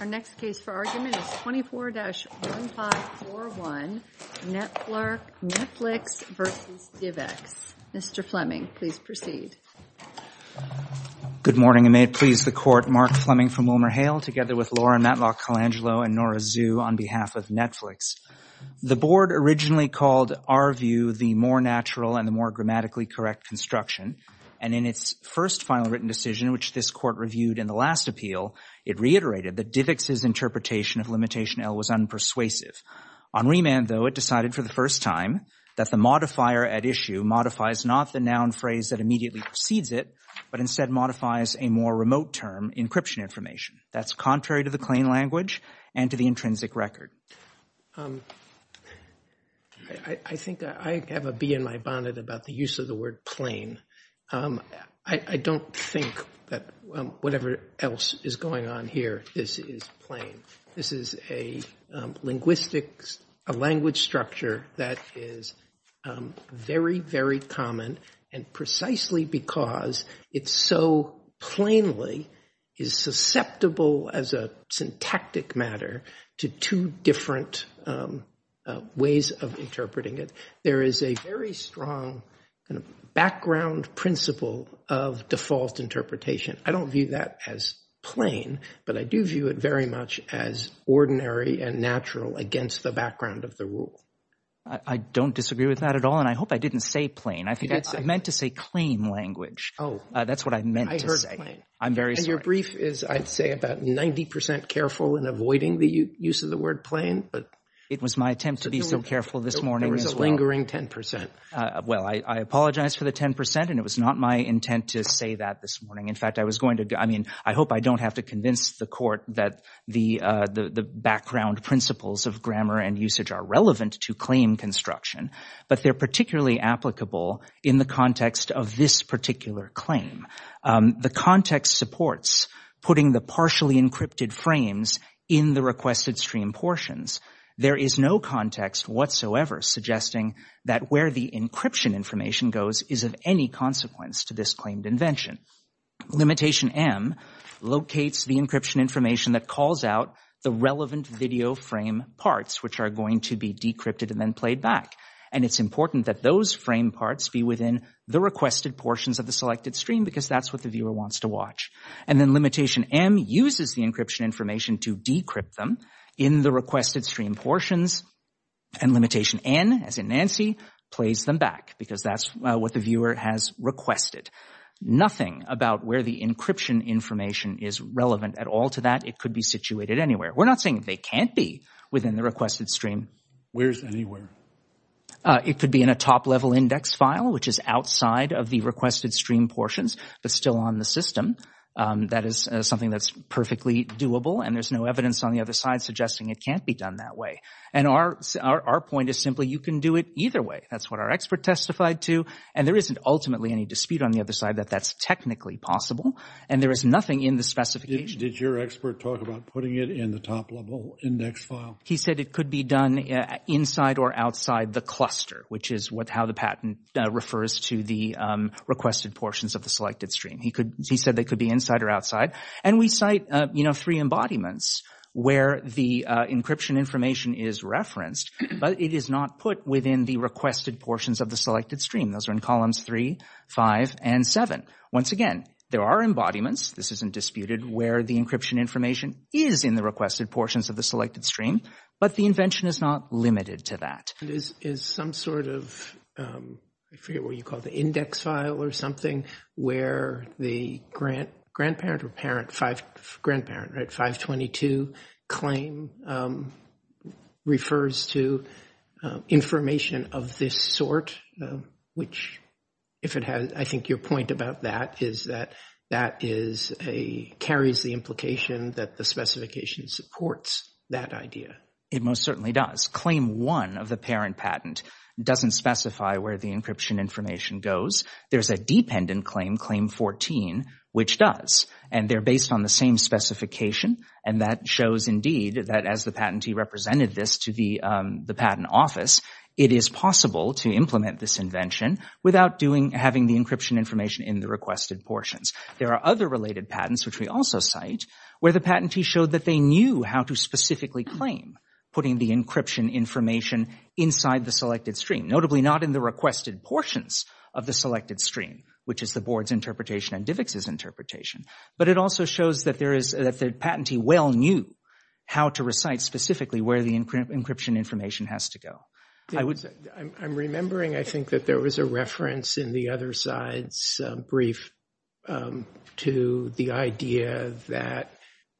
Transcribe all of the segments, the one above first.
Our next case for argument is 24-1541 Netflix v. DivX. Mr. Fleming, please proceed. Good morning, and may it please the Court, Mark Fleming from WilmerHale, together with Laura Matlock Colangelo and Nora Zhu on behalf of Netflix. The Board originally called our view the more natural and the more grammatically correct construction, and in its first final written decision, which this Court reviewed in the last appeal, it reiterated that DivX's interpretation of limitation L was unpersuasive. On remand, though, it decided for the first time that the modifier at issue modifies not the noun phrase that immediately precedes it, but instead modifies a more remote term, encryption information. That's contrary to the plain language and to the intrinsic record. I think I have a bee in my bonnet about the use of the word plain. I don't think that whatever else is going on here is plain. This is a language structure that is very, very common, and precisely because it so plainly is susceptible as a syntactic matter to two different ways of interpreting it. There is a very strong background principle of default interpretation. I don't view that as plain, but I do view it very much as ordinary and natural against the background of the rule. I don't disagree with that at all, and I hope I didn't say plain. I think I meant to say claim language. That's what I meant to say. I'm very sorry. And your brief is, I'd say, about 90% careful in avoiding the use of the word plain. It was my attempt to be so careful this morning as well. There was a lingering 10%. Well, I apologize for the 10%, and it was not my intent to say that this morning. In fact, I was going to—I mean, I hope I don't have to convince the court that the background principles of grammar and usage are relevant to claim construction, but they're particularly applicable in the context of this particular claim. The context supports putting the partially encrypted frames in the requested stream portions. There is no context whatsoever suggesting that where the encryption information goes is of any consequence to this claimed invention. Limitation M locates the encryption information that calls out the relevant video frame parts, which are going to be decrypted and then played back. And it's important that those frame parts be within the requested portions of the selected stream because that's what the viewer wants to watch. And then Limitation M uses the encryption information to decrypt them in the requested stream portions, and Limitation N, as in Nancy, plays them back because that's what the viewer has requested. Nothing about where the encryption information is relevant at all to that. It could be situated anywhere. We're not saying they can't be within the requested stream. Where's anywhere? It could be in a top-level index file, which is outside of the requested stream portions, but still on the system. That is something that's perfectly doable, and there's no evidence on the other side suggesting it can't be done that way. And our point is simply you can do it either way. That's what our expert testified to, and there isn't ultimately any dispute on the other side that that's technically possible, and there is nothing in the specification. Did your expert talk about putting it in the top-level index file? He said it could be done inside or outside the cluster, which is how the patent refers to the requested portions of the selected stream. He said they could be inside or outside, and we cite three embodiments where the encryption information is referenced, but it is not put within the requested portions of the selected stream. Those are in columns 3, 5, and 7. Once again, there are embodiments, this isn't disputed, where the encryption information is in the requested portions of the selected stream, but the invention is not limited to that. Is some sort of, I forget what you call it, the index file or something, where the grandparent or parent, grandparent, right, 522 claim refers to information of this sort, which if it has, I think your point about that is that that carries the implication that the specification supports that idea. It most certainly does. Claim 1 of the parent patent doesn't specify where the encryption information goes. There's a dependent claim, claim 14, which does, and they're based on the same specification, and that shows indeed that as the patentee represented this to the patent office, it is possible to implement this invention without having the encryption information in the requested portions. There are other related patents, which we also cite, where the patentee showed that they knew how to specifically claim, putting the encryption information inside the selected stream, notably not in the requested portions of the selected stream, which is the board's interpretation and DIVX's interpretation, but it also shows that the patentee well knew how to recite specifically where the encryption information has to go. I'm remembering, I think, that there was a reference in the other side's brief to the idea that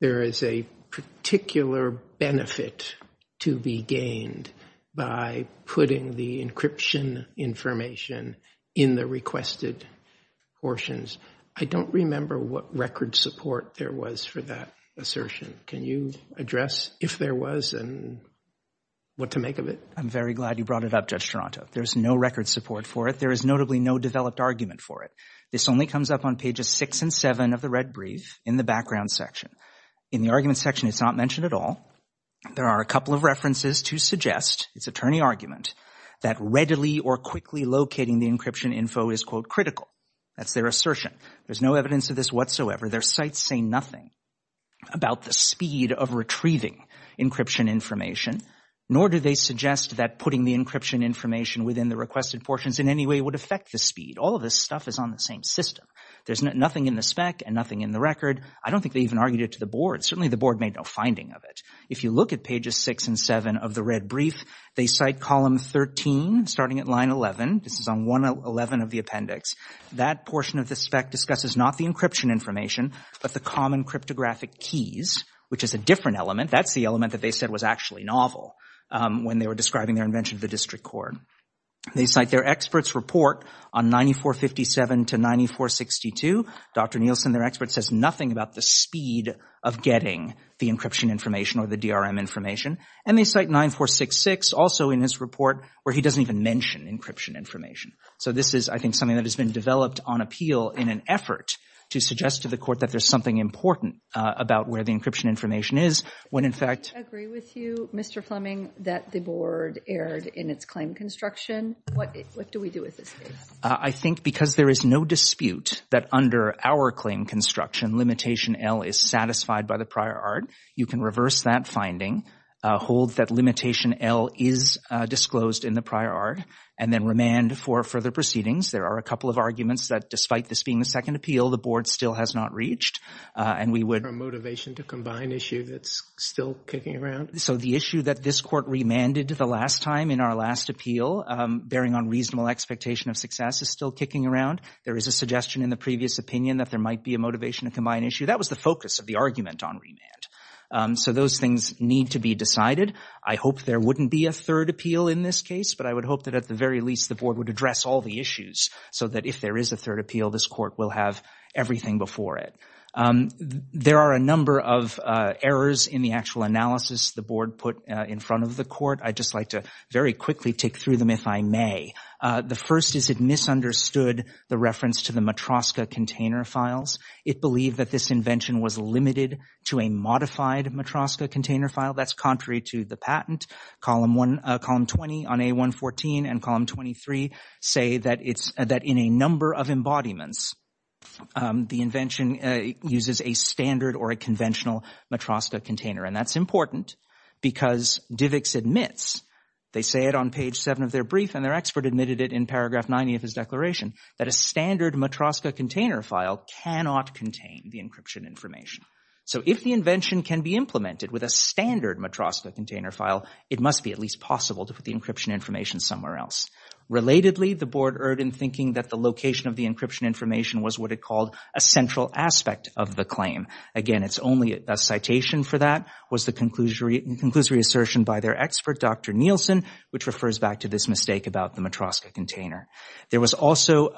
there is a particular benefit to be gained by putting the encryption information in the requested portions. I don't remember what record support there was for that assertion. Can you address if there was and what to make of it? I'm very glad you brought it up, Judge Toronto. There's no record support for it. There is notably no developed argument for it. This only comes up on pages six and seven of the red brief in the background section. In the argument section, it's not mentioned at all. There are a couple of references to suggest, it's attorney argument, that readily or quickly locating the encryption info is, quote, critical. That's their assertion. There's no evidence of this whatsoever. Their sites say nothing about the speed of retrieving encryption information, nor do they suggest that putting the encryption information within the requested portions in any way would affect the speed. All of this stuff is on the same system. There's nothing in the spec and nothing in the record. I don't think they even argued it to the board. Certainly the board made no finding of it. If you look at pages six and seven of the red brief, they cite column 13, starting at line 11. This is on 111 of the appendix. That portion of the spec discusses not the encryption information, but the common cryptographic keys, which is a different element. That's the element that they said was actually novel when they were describing their invention of the district court. They cite their expert's report on 9457 to 9462, Dr. Nielsen, their expert, says nothing about the speed of getting the encryption information or the DRM information. And they cite 9466 also in his report, where he doesn't even mention encryption information. So this is, I think, something that has been developed on appeal in an effort to suggest to the court that there's something important about where the encryption information is, when in fact- I agree with you, Mr. Fleming, that the board erred in its claim construction. What do we do with this case? I think because there is no dispute that under our claim construction, limitation L is satisfied by the prior art. You can reverse that finding, hold that limitation L is disclosed in the prior art, and then remand for further proceedings. There are a couple of arguments that despite this being the second appeal, the board still has not reached. And we would- A motivation to combine issue that's still kicking around? So the issue that this court remanded the last time in our last appeal, bearing on reasonable expectation of success, is still kicking around. There is a suggestion in the previous opinion that there might be a motivation to combine issue. That was the focus of the argument on remand. So those things need to be decided. I hope there wouldn't be a third appeal in this case, but I would hope that at the very least the board would address all the issues so that if there is a third appeal, this court will have everything before it. There are a number of errors in the actual analysis the board put in front of the court. I'd just like to very quickly tick through them if I may. The first is it misunderstood the reference to the Matroska container files. It believed that this invention was limited to a modified Matroska container file. That's contrary to the patent. Column 20 on A114 and column 23 say that in a number of embodiments, the invention uses a standard or a conventional Matroska container. And that's important because DIVX admits, they say it on page 7 of their brief and their expert admitted it in paragraph 90 of his declaration, that a standard Matroska container file cannot contain the encryption information. So if the invention can be implemented with a standard Matroska container file, it must be at least possible to put the encryption information somewhere else. Relatedly, the board erred in thinking that the location of the encryption information was what it called a central aspect of the claim. Again, it's only a citation for that was the conclusory assertion by their expert, Dr. Nielsen, which refers back to this mistake about the Matroska container. There was also,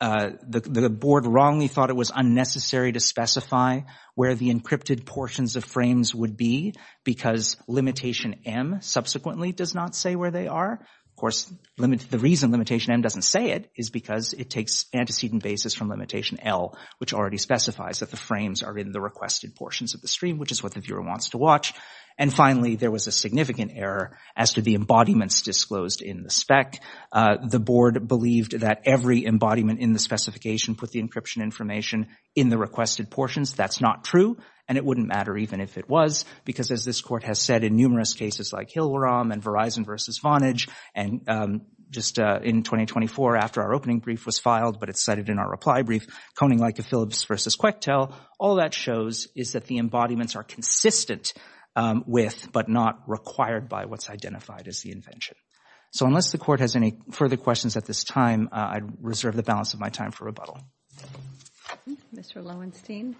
the board wrongly thought it was unnecessary to specify where the encrypted portions of frames would be because limitation M subsequently does not say where they are. Of course, the reason limitation M doesn't say it is because it takes antecedent basis from limitation L, which already specifies that the frames are in the requested portions of the stream, which is what the viewer wants to watch. And finally, there was a significant error as to the embodiments disclosed in the spec. The board believed that every embodiment in the specification put the encryption information in the requested portions. That's not true. And it wouldn't matter even if it was because as this court has said in numerous cases like Hillaram and Verizon versus Vonage and just in 2024 after our opening brief was filed, but it's cited in our reply brief, Koning-Leike-Phillips versus Quechtel, all that shows is that the embodiments are consistent with but not required by what's identified as the invention. So unless the court has any further questions at this time, I reserve the balance of my time for rebuttal. Mr. Loewenstein.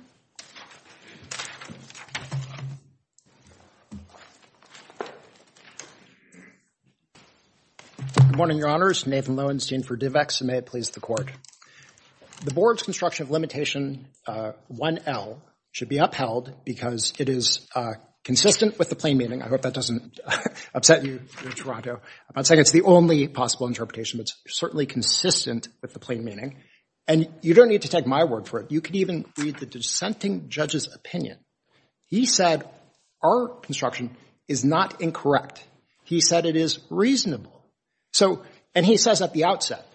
Good morning, Your Honors. Nathan Loewenstein for DivEx and may it please the court. The board's construction of limitation 1L should be upheld because it is consistent with the plain meaning. I hope that doesn't upset you in Toronto. I'm not saying it's the only possible interpretation, but it's certainly consistent with the plain meaning. And you don't need to take my word for it. You could even read the dissenting judge's opinion. He said our construction is not incorrect. He said it is reasonable. And he says at the outset,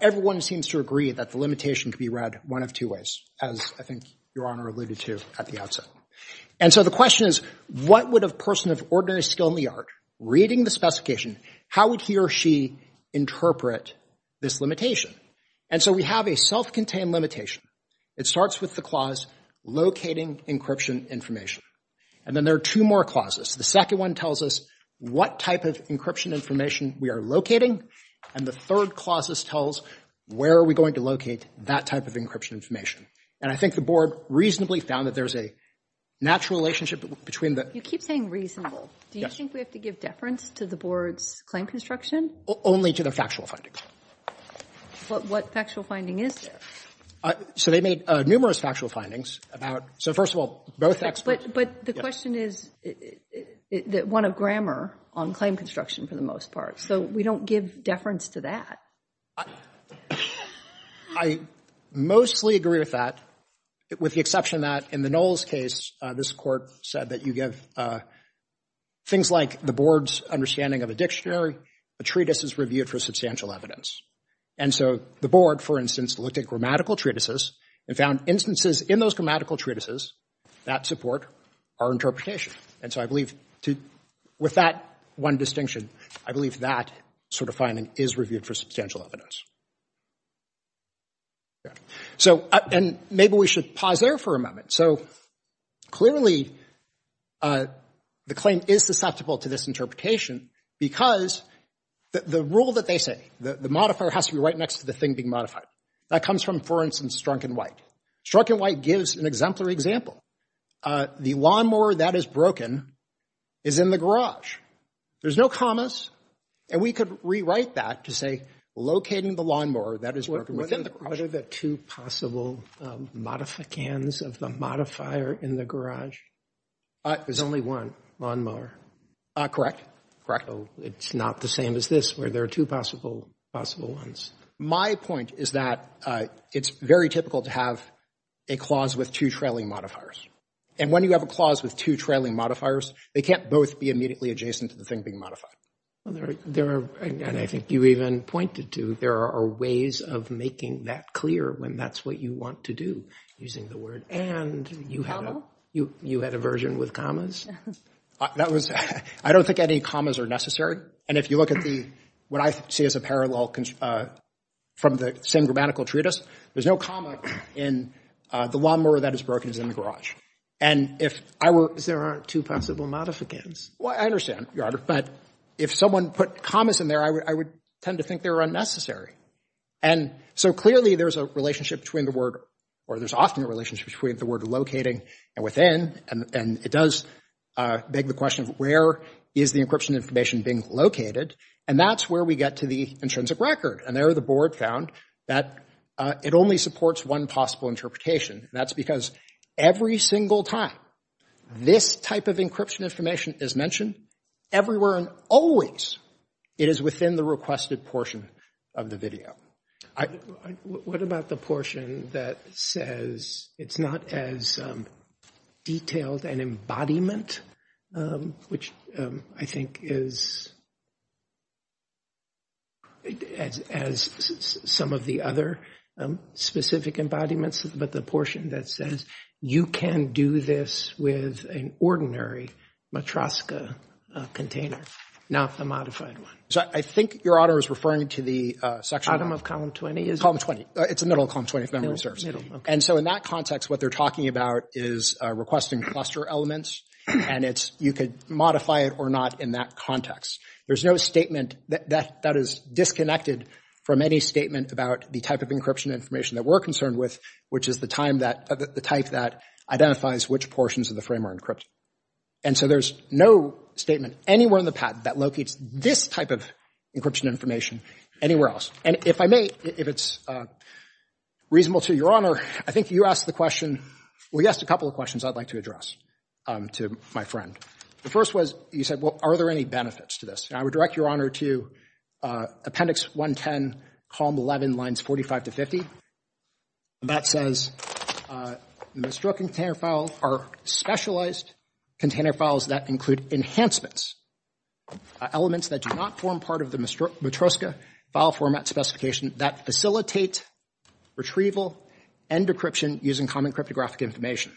everyone seems to agree that the limitation could be read one of two ways, as I think Your Honor alluded to at the outset. And so the question is, what would a person of ordinary skill in the art reading the specification, how would he or she interpret this limitation? And so we have a self-contained limitation. It starts with the clause, locating encryption information. And then there are two more clauses. The second one tells us what type of encryption information we are locating. And the third clause tells where are we going to locate that type of encryption information. And I think the board reasonably found that there's a natural relationship between the You keep saying reasonable. Do you think we have to give deference to the board's claim construction? Only to the factual findings. What factual finding is there? So they made numerous factual findings about, so first of all, both experts. But the question is one of grammar on claim construction for the most part. So we don't give deference to that. I mostly agree with that, with the exception that in the Knowles case, this court said that you give things like the board's understanding of a dictionary, a treatise is reviewed for substantial evidence. And so the board, for instance, looked at grammatical treatises and found instances in those grammatical treatises that support our interpretation. And so I believe with that one distinction, I believe that sort of finding is reviewed for substantial evidence. So and maybe we should pause there for a moment. So clearly the claim is susceptible to this interpretation because the rule that they say, the modifier has to be right next to the thing being modified. That comes from, for instance, Strunk and White. Strunk and White gives an exemplary example. The lawnmower that is broken is in the garage. There's no commas. And we could rewrite that to say, locating the lawnmower that is broken within the garage. What are the two possible modifications of the modifier in the garage? There's only one lawnmower. Correct. Correct. It's not the same as this, where there are two possible ones. My point is that it's very typical to have a clause with two trailing modifiers. And when you have a clause with two trailing modifiers, they can't both be immediately adjacent to the thing being modified. Well, there are, and I think you even pointed to, there are ways of making that clear when that's what you want to do using the word. And you had a version with commas. That was, I don't think any commas are necessary. And if you look at the, what I see as a parallel from the same grammatical treatise, there's no comma in the lawnmower that is broken is in the garage. And if I were... Because there aren't two possible modifications. Well, I understand, Your Honor, but if someone put commas in there, I would tend to think they're unnecessary. And so clearly there's a relationship between the word, or there's often a relationship between the word locating and within. And it does beg the question of where is the encryption information being located? And that's where we get to the intrinsic record. And there the board found that it only supports one possible interpretation. And that's because every single time this type of encryption information is mentioned, everywhere and always, it is within the requested portion of the video. What about the portion that says it's not as detailed an embodiment, which I think is as some of the other specific embodiments, but the portion that says you can do this with an ordinary Matroska container, not the modified one? I think Your Honor is referring to the section... Item of column 20 is... Column 20. It's the middle of column 20, if memory serves. And so in that context, what they're talking about is requesting cluster elements. And you could modify it or not in that context. There's no statement that is disconnected from any statement about the type of encryption information that we're concerned with, which is the type that identifies which portions of the frame are encrypted. And so there's no statement anywhere in the patent that locates this type of encryption information anywhere else. And if I may, if it's reasonable to Your Honor, I think you asked the question... Well, you asked a couple of questions I'd like to address to my friend. The first was, you said, well, are there any benefits to this? And I would direct Your Honor to Appendix 110, Column 11, Lines 45 to 50. That says, the Mistroken Container File are specialized container files that include enhancements. Elements that do not form part of the Mistroska file format specification that facilitate retrieval and decryption using common cryptographic information.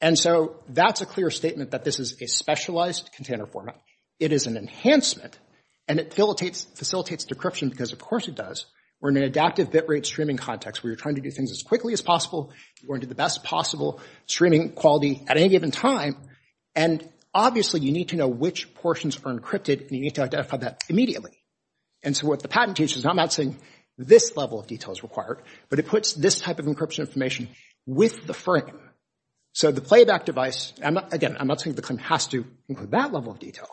And so that's a clear statement that this is a specialized container format. It is an enhancement and it facilitates decryption because, of course, it does. We're in an adaptive bit rate streaming context where you're trying to do things as quickly as possible. You want to do the best possible streaming quality at any given time. And obviously, you need to know which portions are encrypted and you need to identify that immediately. And so what the patent teaches, I'm not saying this level of detail is required, but it puts this type of encryption information with the frame. So the playback device, again, I'm not saying the claim has to include that level of detail,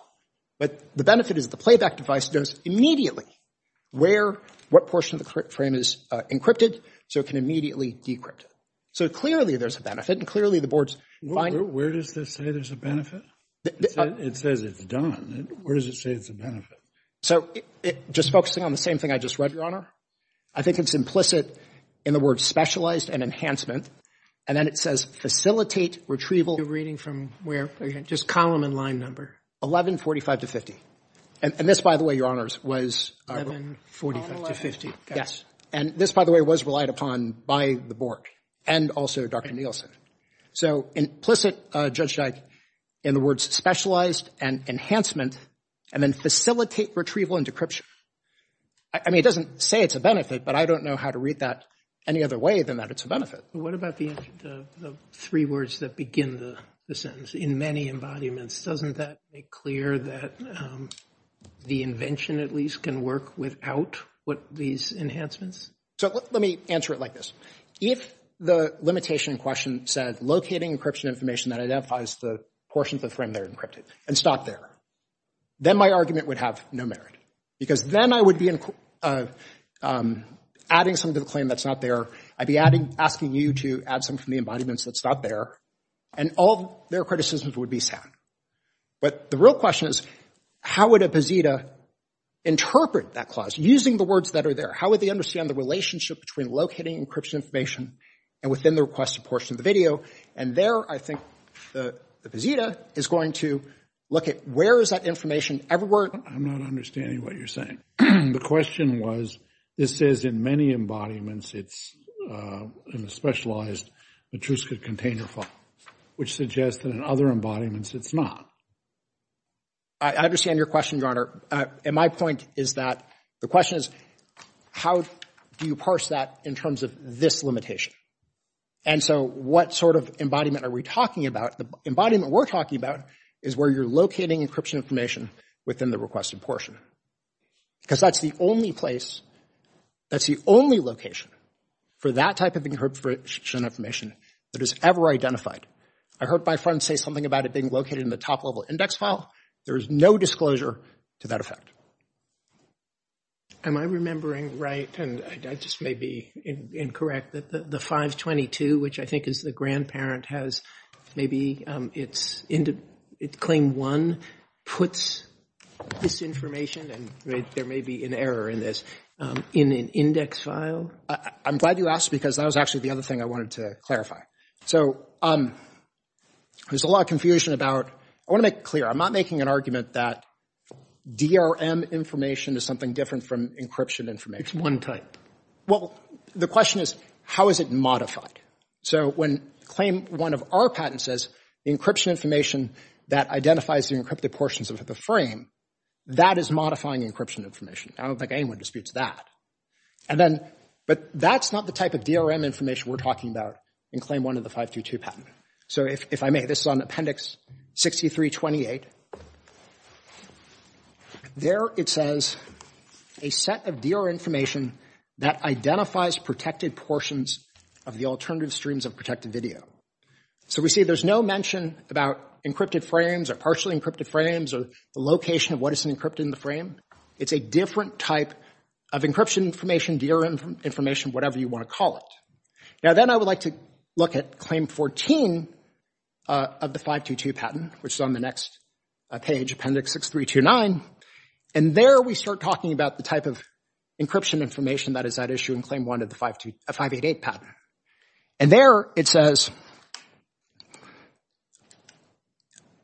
but the benefit is the playback device knows immediately where, what portion of the frame is encrypted, so it can immediately decrypt it. So clearly there's a benefit and clearly the board's fine. Where does this say there's a benefit? It says it's done. Where does it say it's a benefit? So just focusing on the same thing I just read, Your Honor, I think it's implicit in the word specialized and enhancement. And then it says facilitate retrieval. You're reading from where? Just column and line number. 1145 to 50. And this, by the way, Your Honors, was 1145 to 50. And this, by the way, was relied upon by the board and also Dr. Nielsen. So implicit, Judge Dyke, in the words specialized and enhancement, and then facilitate retrieval and decryption. I mean, it doesn't say it's a benefit, but I don't know how to read that any other way than that it's a benefit. What about the three words that begin the sentence, in many embodiments? Doesn't that make clear that the invention at least can work without these enhancements? So let me answer it like this. If the limitation in question said, locating encryption information that identifies the portions of the frame that are encrypted, and it's not there, then my argument would have no merit. Because then I would be adding something to the claim that's not there. I'd be asking you to add something from the embodiments that's not there. And all their criticisms would be sound. But the real question is, how would a BZETA interpret that clause using the words that are there? How would they understand the relationship between locating encryption information and within the requested portion of the video? And there, I think, the BZETA is going to look at where is that information? I'm not understanding what you're saying. The question was, this says in many embodiments, it's in a specialized Matryoshka container file, which suggests that in other embodiments, it's not. I understand your question, Your Honor. And my point is that the question is, how do you parse that in terms of this limitation? And so what sort of embodiment are we talking about? The embodiment we're talking about is where you're locating encryption information within the requested portion. Because that's the only place, that's the only location for that type of encryption information that is ever identified. I heard my friend say something about it being located in the top-level index file. There is no disclosure to that effect. Am I remembering right, and I just may be incorrect, that the 522, which I think is the grandparent, has maybe it's claim one, puts this information, and there may be an error in this, in an index file? I'm glad you asked, because that was actually the other thing I wanted to clarify. So there's a lot of confusion about, I want to make it clear, I'm not making an argument that DRM information is something different from encryption information. It's one type. Well, the question is, how is it modified? So when claim one of our patents says, encryption information that identifies the encrypted portions of the frame, that is modifying encryption information. I don't think anyone disputes that. And then, but that's not the type of DRM information we're talking about in claim one of the 522 patent. So if I may, this is on Appendix 6328, there it says, a set of DRM information that identifies protected portions of the alternative streams of protected video. So we see there's no mention about encrypted frames, or partially encrypted frames, or the location of what is encrypted in the frame. It's a different type of encryption information, DRM information, whatever you want to call it. Now, then I would like to look at claim 14 of the 522 patent, which is on the next page, Appendix 6329. And there we start talking about the type of encryption information that is at issue in claim one of the 588 patent. And there it says,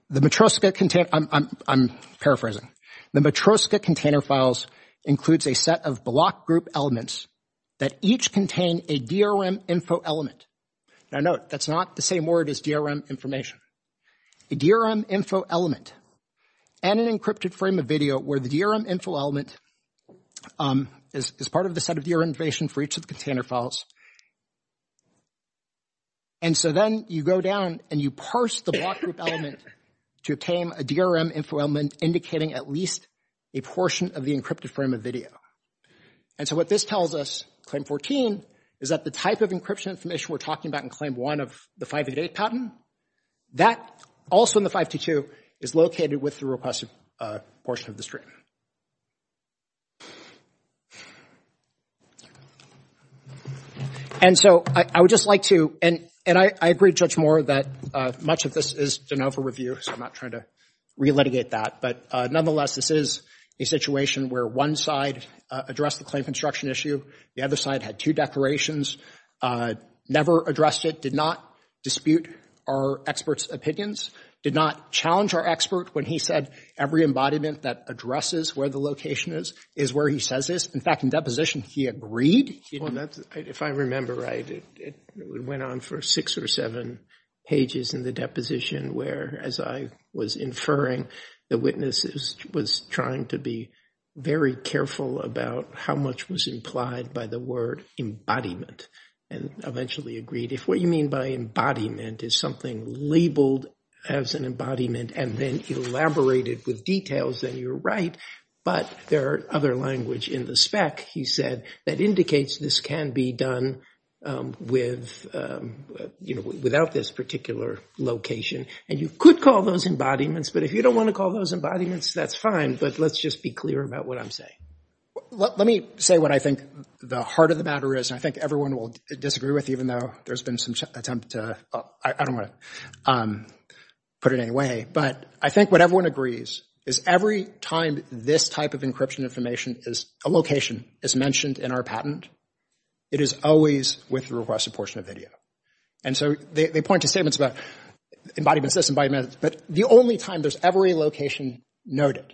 the Matryoshka container, I'm paraphrasing, the Matryoshka container files includes a set of block group elements that each contain a DRM info element. Now note, that's not the same word as DRM information. A DRM info element, and an encrypted frame of video where the DRM info element is part of the set of DRM information for each of the container files. And so then you go down and you parse the block group element to obtain a DRM info element indicating at least a portion of the encrypted frame of video. And so what this tells us, claim 14, is that the type of encryption information we're talking about in claim one of the 588 patent, that also in the 522, is located with the repressive portion of the stream. And so I would just like to, and I agree with Judge Moore that much of this is de novo review, so I'm not trying to re-litigate that. But nonetheless, this is a situation where one side addressed the claim construction issue, the other side had two declarations, never addressed it, did not dispute our expert's opinions, did not challenge our expert when he said every embodiment that addresses where the location is, is where he says it is. In fact, in deposition, he agreed. Well, if I remember right, it went on for six or seven pages in the deposition where, as I was inferring, the witness was trying to be very careful about how much was implied by the word embodiment, and eventually agreed. If what you mean by embodiment is something labeled as an embodiment and then elaborated with details, then you're right. But there are other language in the spec, he said, that indicates this can be done without this particular location. And you could call those embodiments, but if you don't want to call those embodiments, that's fine. But let's just be clear about what I'm saying. Let me say what I think the heart of the matter is, and I think everyone will disagree with, even though there's been some attempt to, I don't want to put it any way, but I think what everyone agrees is every time this type of encryption information is, a location is mentioned in our patent, it is always with the requested portion of video. And so they point to statements about embodiments, this embodiment, but the only time there's every location noted,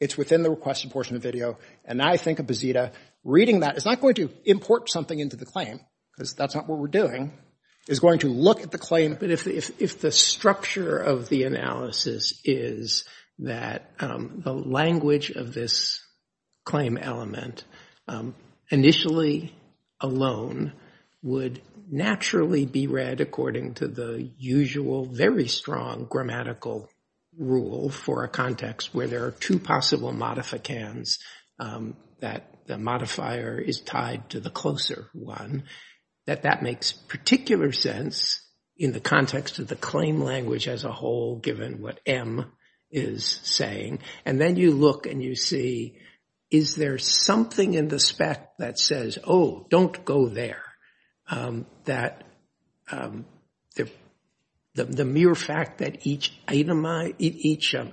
it's within the requested portion of video. And I think of Bazita, reading that is not going to import something into the claim, because that's not what we're doing, is going to look at the claim. But if the structure of the analysis is that the language of this claim element initially alone would naturally be read according to the usual, very strong grammatical rule for a context where there are two possible modificands, that the modifier is tied to the closer one, that that makes particular sense in the context of the claim language as a whole, given what M is saying. And then you look and you see, is there something in the spec that says, oh, don't go there, that the mere fact that each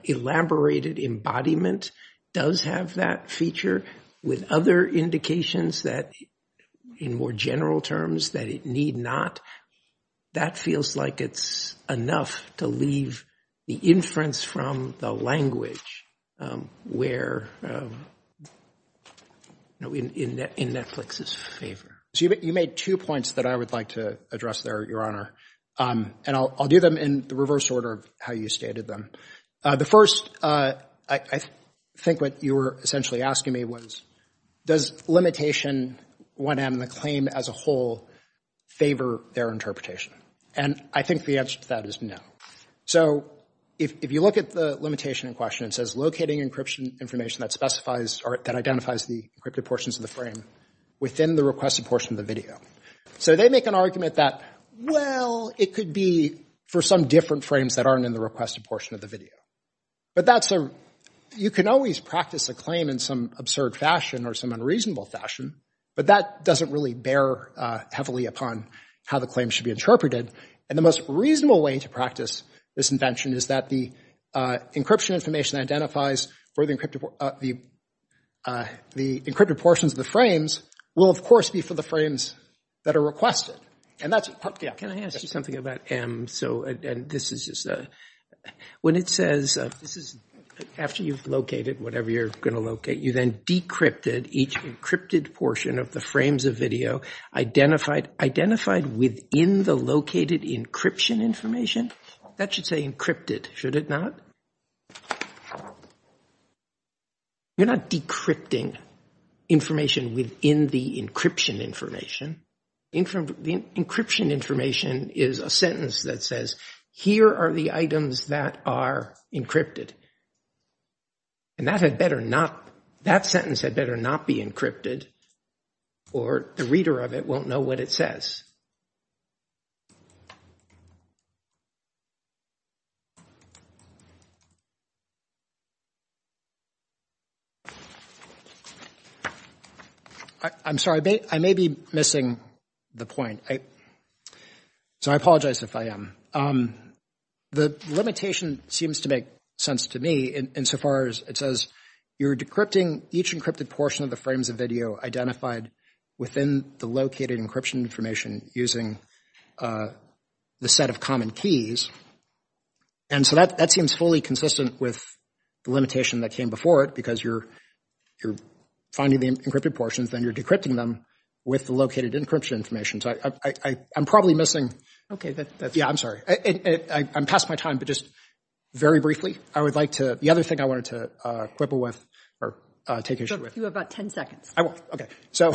elaborated embodiment does have that feature, with other indications that, in more general terms, that it need not, that feels like it's enough to leave the inference from the language in Netflix's favor. So you made two points that I would like to address there, Your Honor. And I'll do them in the reverse order of how you stated them. The first, I think what you were essentially asking me was, does limitation 1M, the claim as a whole, favor their interpretation? And I think the answer to that is no. So if you look at the limitation in question, it says, locating encryption information that identifies the encrypted portions of the frame within the requested portion of the video. So they make an argument that, well, it could be for some different frames that aren't in the requested portion of the video. But you can always practice a claim in some absurd fashion or some unreasonable fashion, but that doesn't really bear heavily upon how the claim should be interpreted. And the most reasonable way to practice this invention is that the encryption portions of the frames will, of course, be for the frames that are requested. Can I ask you something about M? After you've located whatever you're going to locate, you then decrypted each encrypted portion of the frames of video identified within the located encryption information. That should say encrypted, should it not? You're not decrypting information within the encryption information. The encryption information is a sentence that says, here are the items that are encrypted. And that had better not, that sentence had better not be encrypted or the reader of it won't know what it says. I'm sorry, I may be missing the point. So I apologize if I am. The limitation seems to make sense to me insofar as it says, you're decrypting each encrypted portion of the frames of video identified within the located encryption information using the set of common keys. And so that seems fully consistent with the limitation that came before it, because you're finding the encrypted portions, then you're decrypting them with the located encryption information. So I'm probably missing, yeah, I'm sorry, I'm past my time, but just very briefly, I would like to, the other thing I wanted to quibble with or take issue with. You have about 10 seconds. I won't, okay. So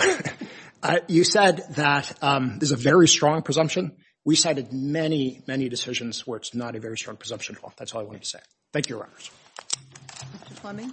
you said that there's a very strong presumption. We cited many, many decisions where it's not a very strong presumption at all. That's all I wanted to say. Thank you, Your Honor.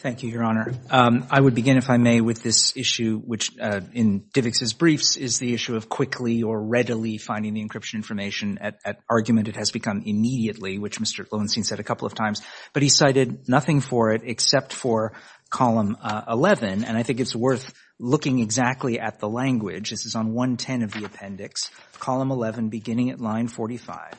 Thank you, Your Honor. I would begin, if I may, with this issue, which in Divick's briefs is the issue of quickly or readily finding the encryption information at argument. It has become immediately, which Mr. Glowenstein said a couple of times, but he cited nothing for it except for column 11, and I think it's worth looking exactly at the language. This is on 110 of the appendix, column 11, beginning at line 45.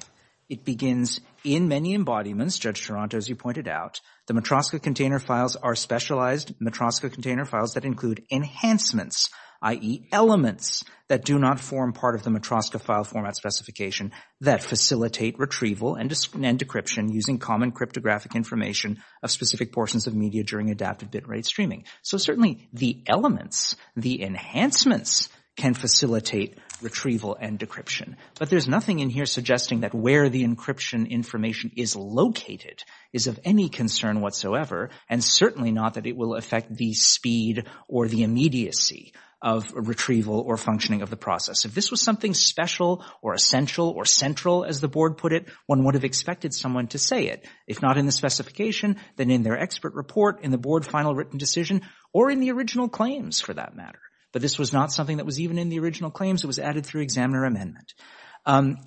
It begins, in many embodiments, Judge Toronto, as you pointed out, the Matroska container files are specialized Matroska container files that include enhancements, i.e. elements that do not form part of the Matroska file format specification that facilitate retrieval and decryption using common cryptographic information of specific portions of media during adaptive bit rate streaming. So certainly the elements, the enhancements can facilitate retrieval and decryption, but there's nothing in here suggesting that where the encryption information is located is of any concern whatsoever, and certainly not that it will affect the speed or the immediacy of retrieval or functioning of the process. If this was something special or essential or central, as the board put it, one would have expected someone to say it. If not in the specification, then in their expert report, in the board final written decision, or in the original claims for that matter. But this was not something that was even in the original claims. It was added through examiner amendment.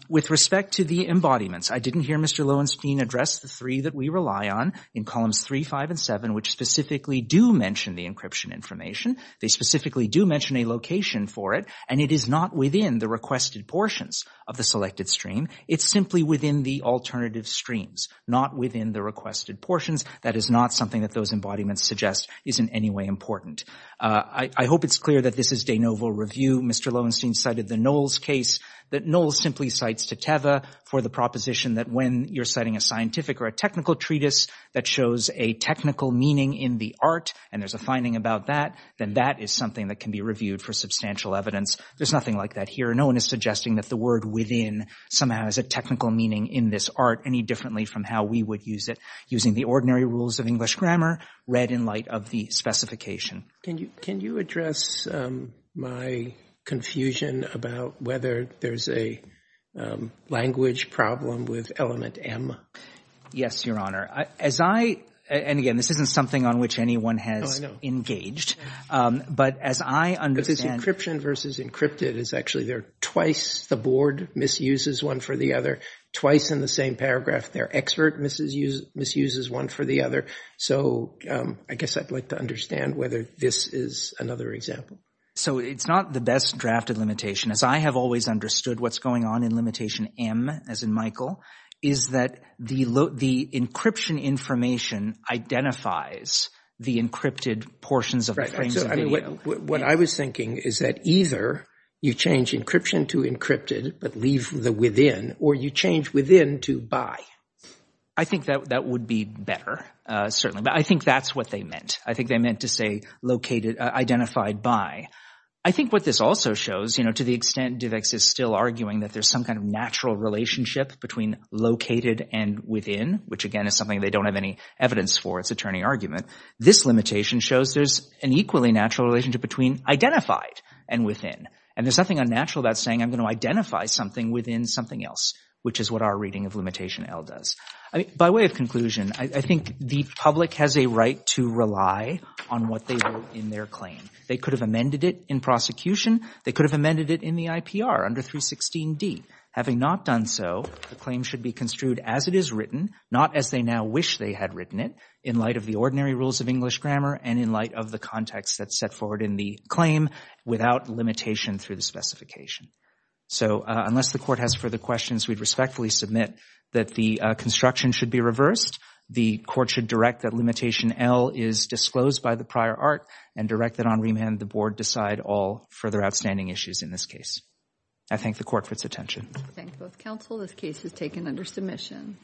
With respect to the embodiments, I didn't hear Mr. Glowenstein address the three that we rely on in columns 3, 5, and 7, which specifically do mention the encryption information. They specifically do mention a location for it, and it is not within the requested portions of the selected stream. It's simply within the alternative streams, not within the requested portions. That is not something that those embodiments suggest is in any way important. I hope it's clear that this is de novo review. Mr. Glowenstein cited the Knowles case that Knowles simply cites to Teva for the proposition that when you're citing a scientific or a technical treatise that shows a technical meaning in the art, and there's a finding about that, then that is something that can be reviewed for substantial evidence. There's nothing like that here. No one is suggesting that the word within somehow has a technical meaning in this art any differently from how we would use it using the ordinary rules of English grammar read in light of the specification. Can you address my confusion about whether there's a language problem with element M? Yes, Your Honor. As I – and again, this isn't something on which anyone has engaged. But as I understand – It's encryption versus encrypted. It's actually they're twice the board misuses one for the other, twice in the same paragraph their expert misuses one for the other. So I guess I'd like to understand whether this is another example. So it's not the best drafted limitation. As I have always understood what's going on in limitation M, as in Michael, is that the encryption information identifies the encrypted portions of the frames of video. What I was thinking is that either you change encryption to encrypted, but leave the within, or you change within to by. I think that would be better, certainly. But I think that's what they meant. I think they meant to say located – identified by. I think what this also shows, you know, to the extent Divex is still arguing that there's some kind of natural relationship between located and within, which again is something they don't have any evidence for. It's a turning argument. This limitation shows there's an equally natural relationship between identified and within. And there's nothing unnatural about saying I'm going to identify something within something else, which is what our reading of limitation L does. By way of conclusion, I think the public has a right to rely on what they wrote in their claim. They could have amended it in prosecution. They could have amended it in the IPR under 316D. Having not done so, the claim should be construed as it is written, not as they now wish they had written it, in light of the ordinary rules of English grammar and in light of the context that's set forward in the claim without limitation through the specification. So unless the court has further questions, we'd respectfully submit that the construction should be reversed. The court should direct that limitation L is disclosed by the prior art and direct that on remand the board decide all further outstanding issues in this case. I thank the court for its attention.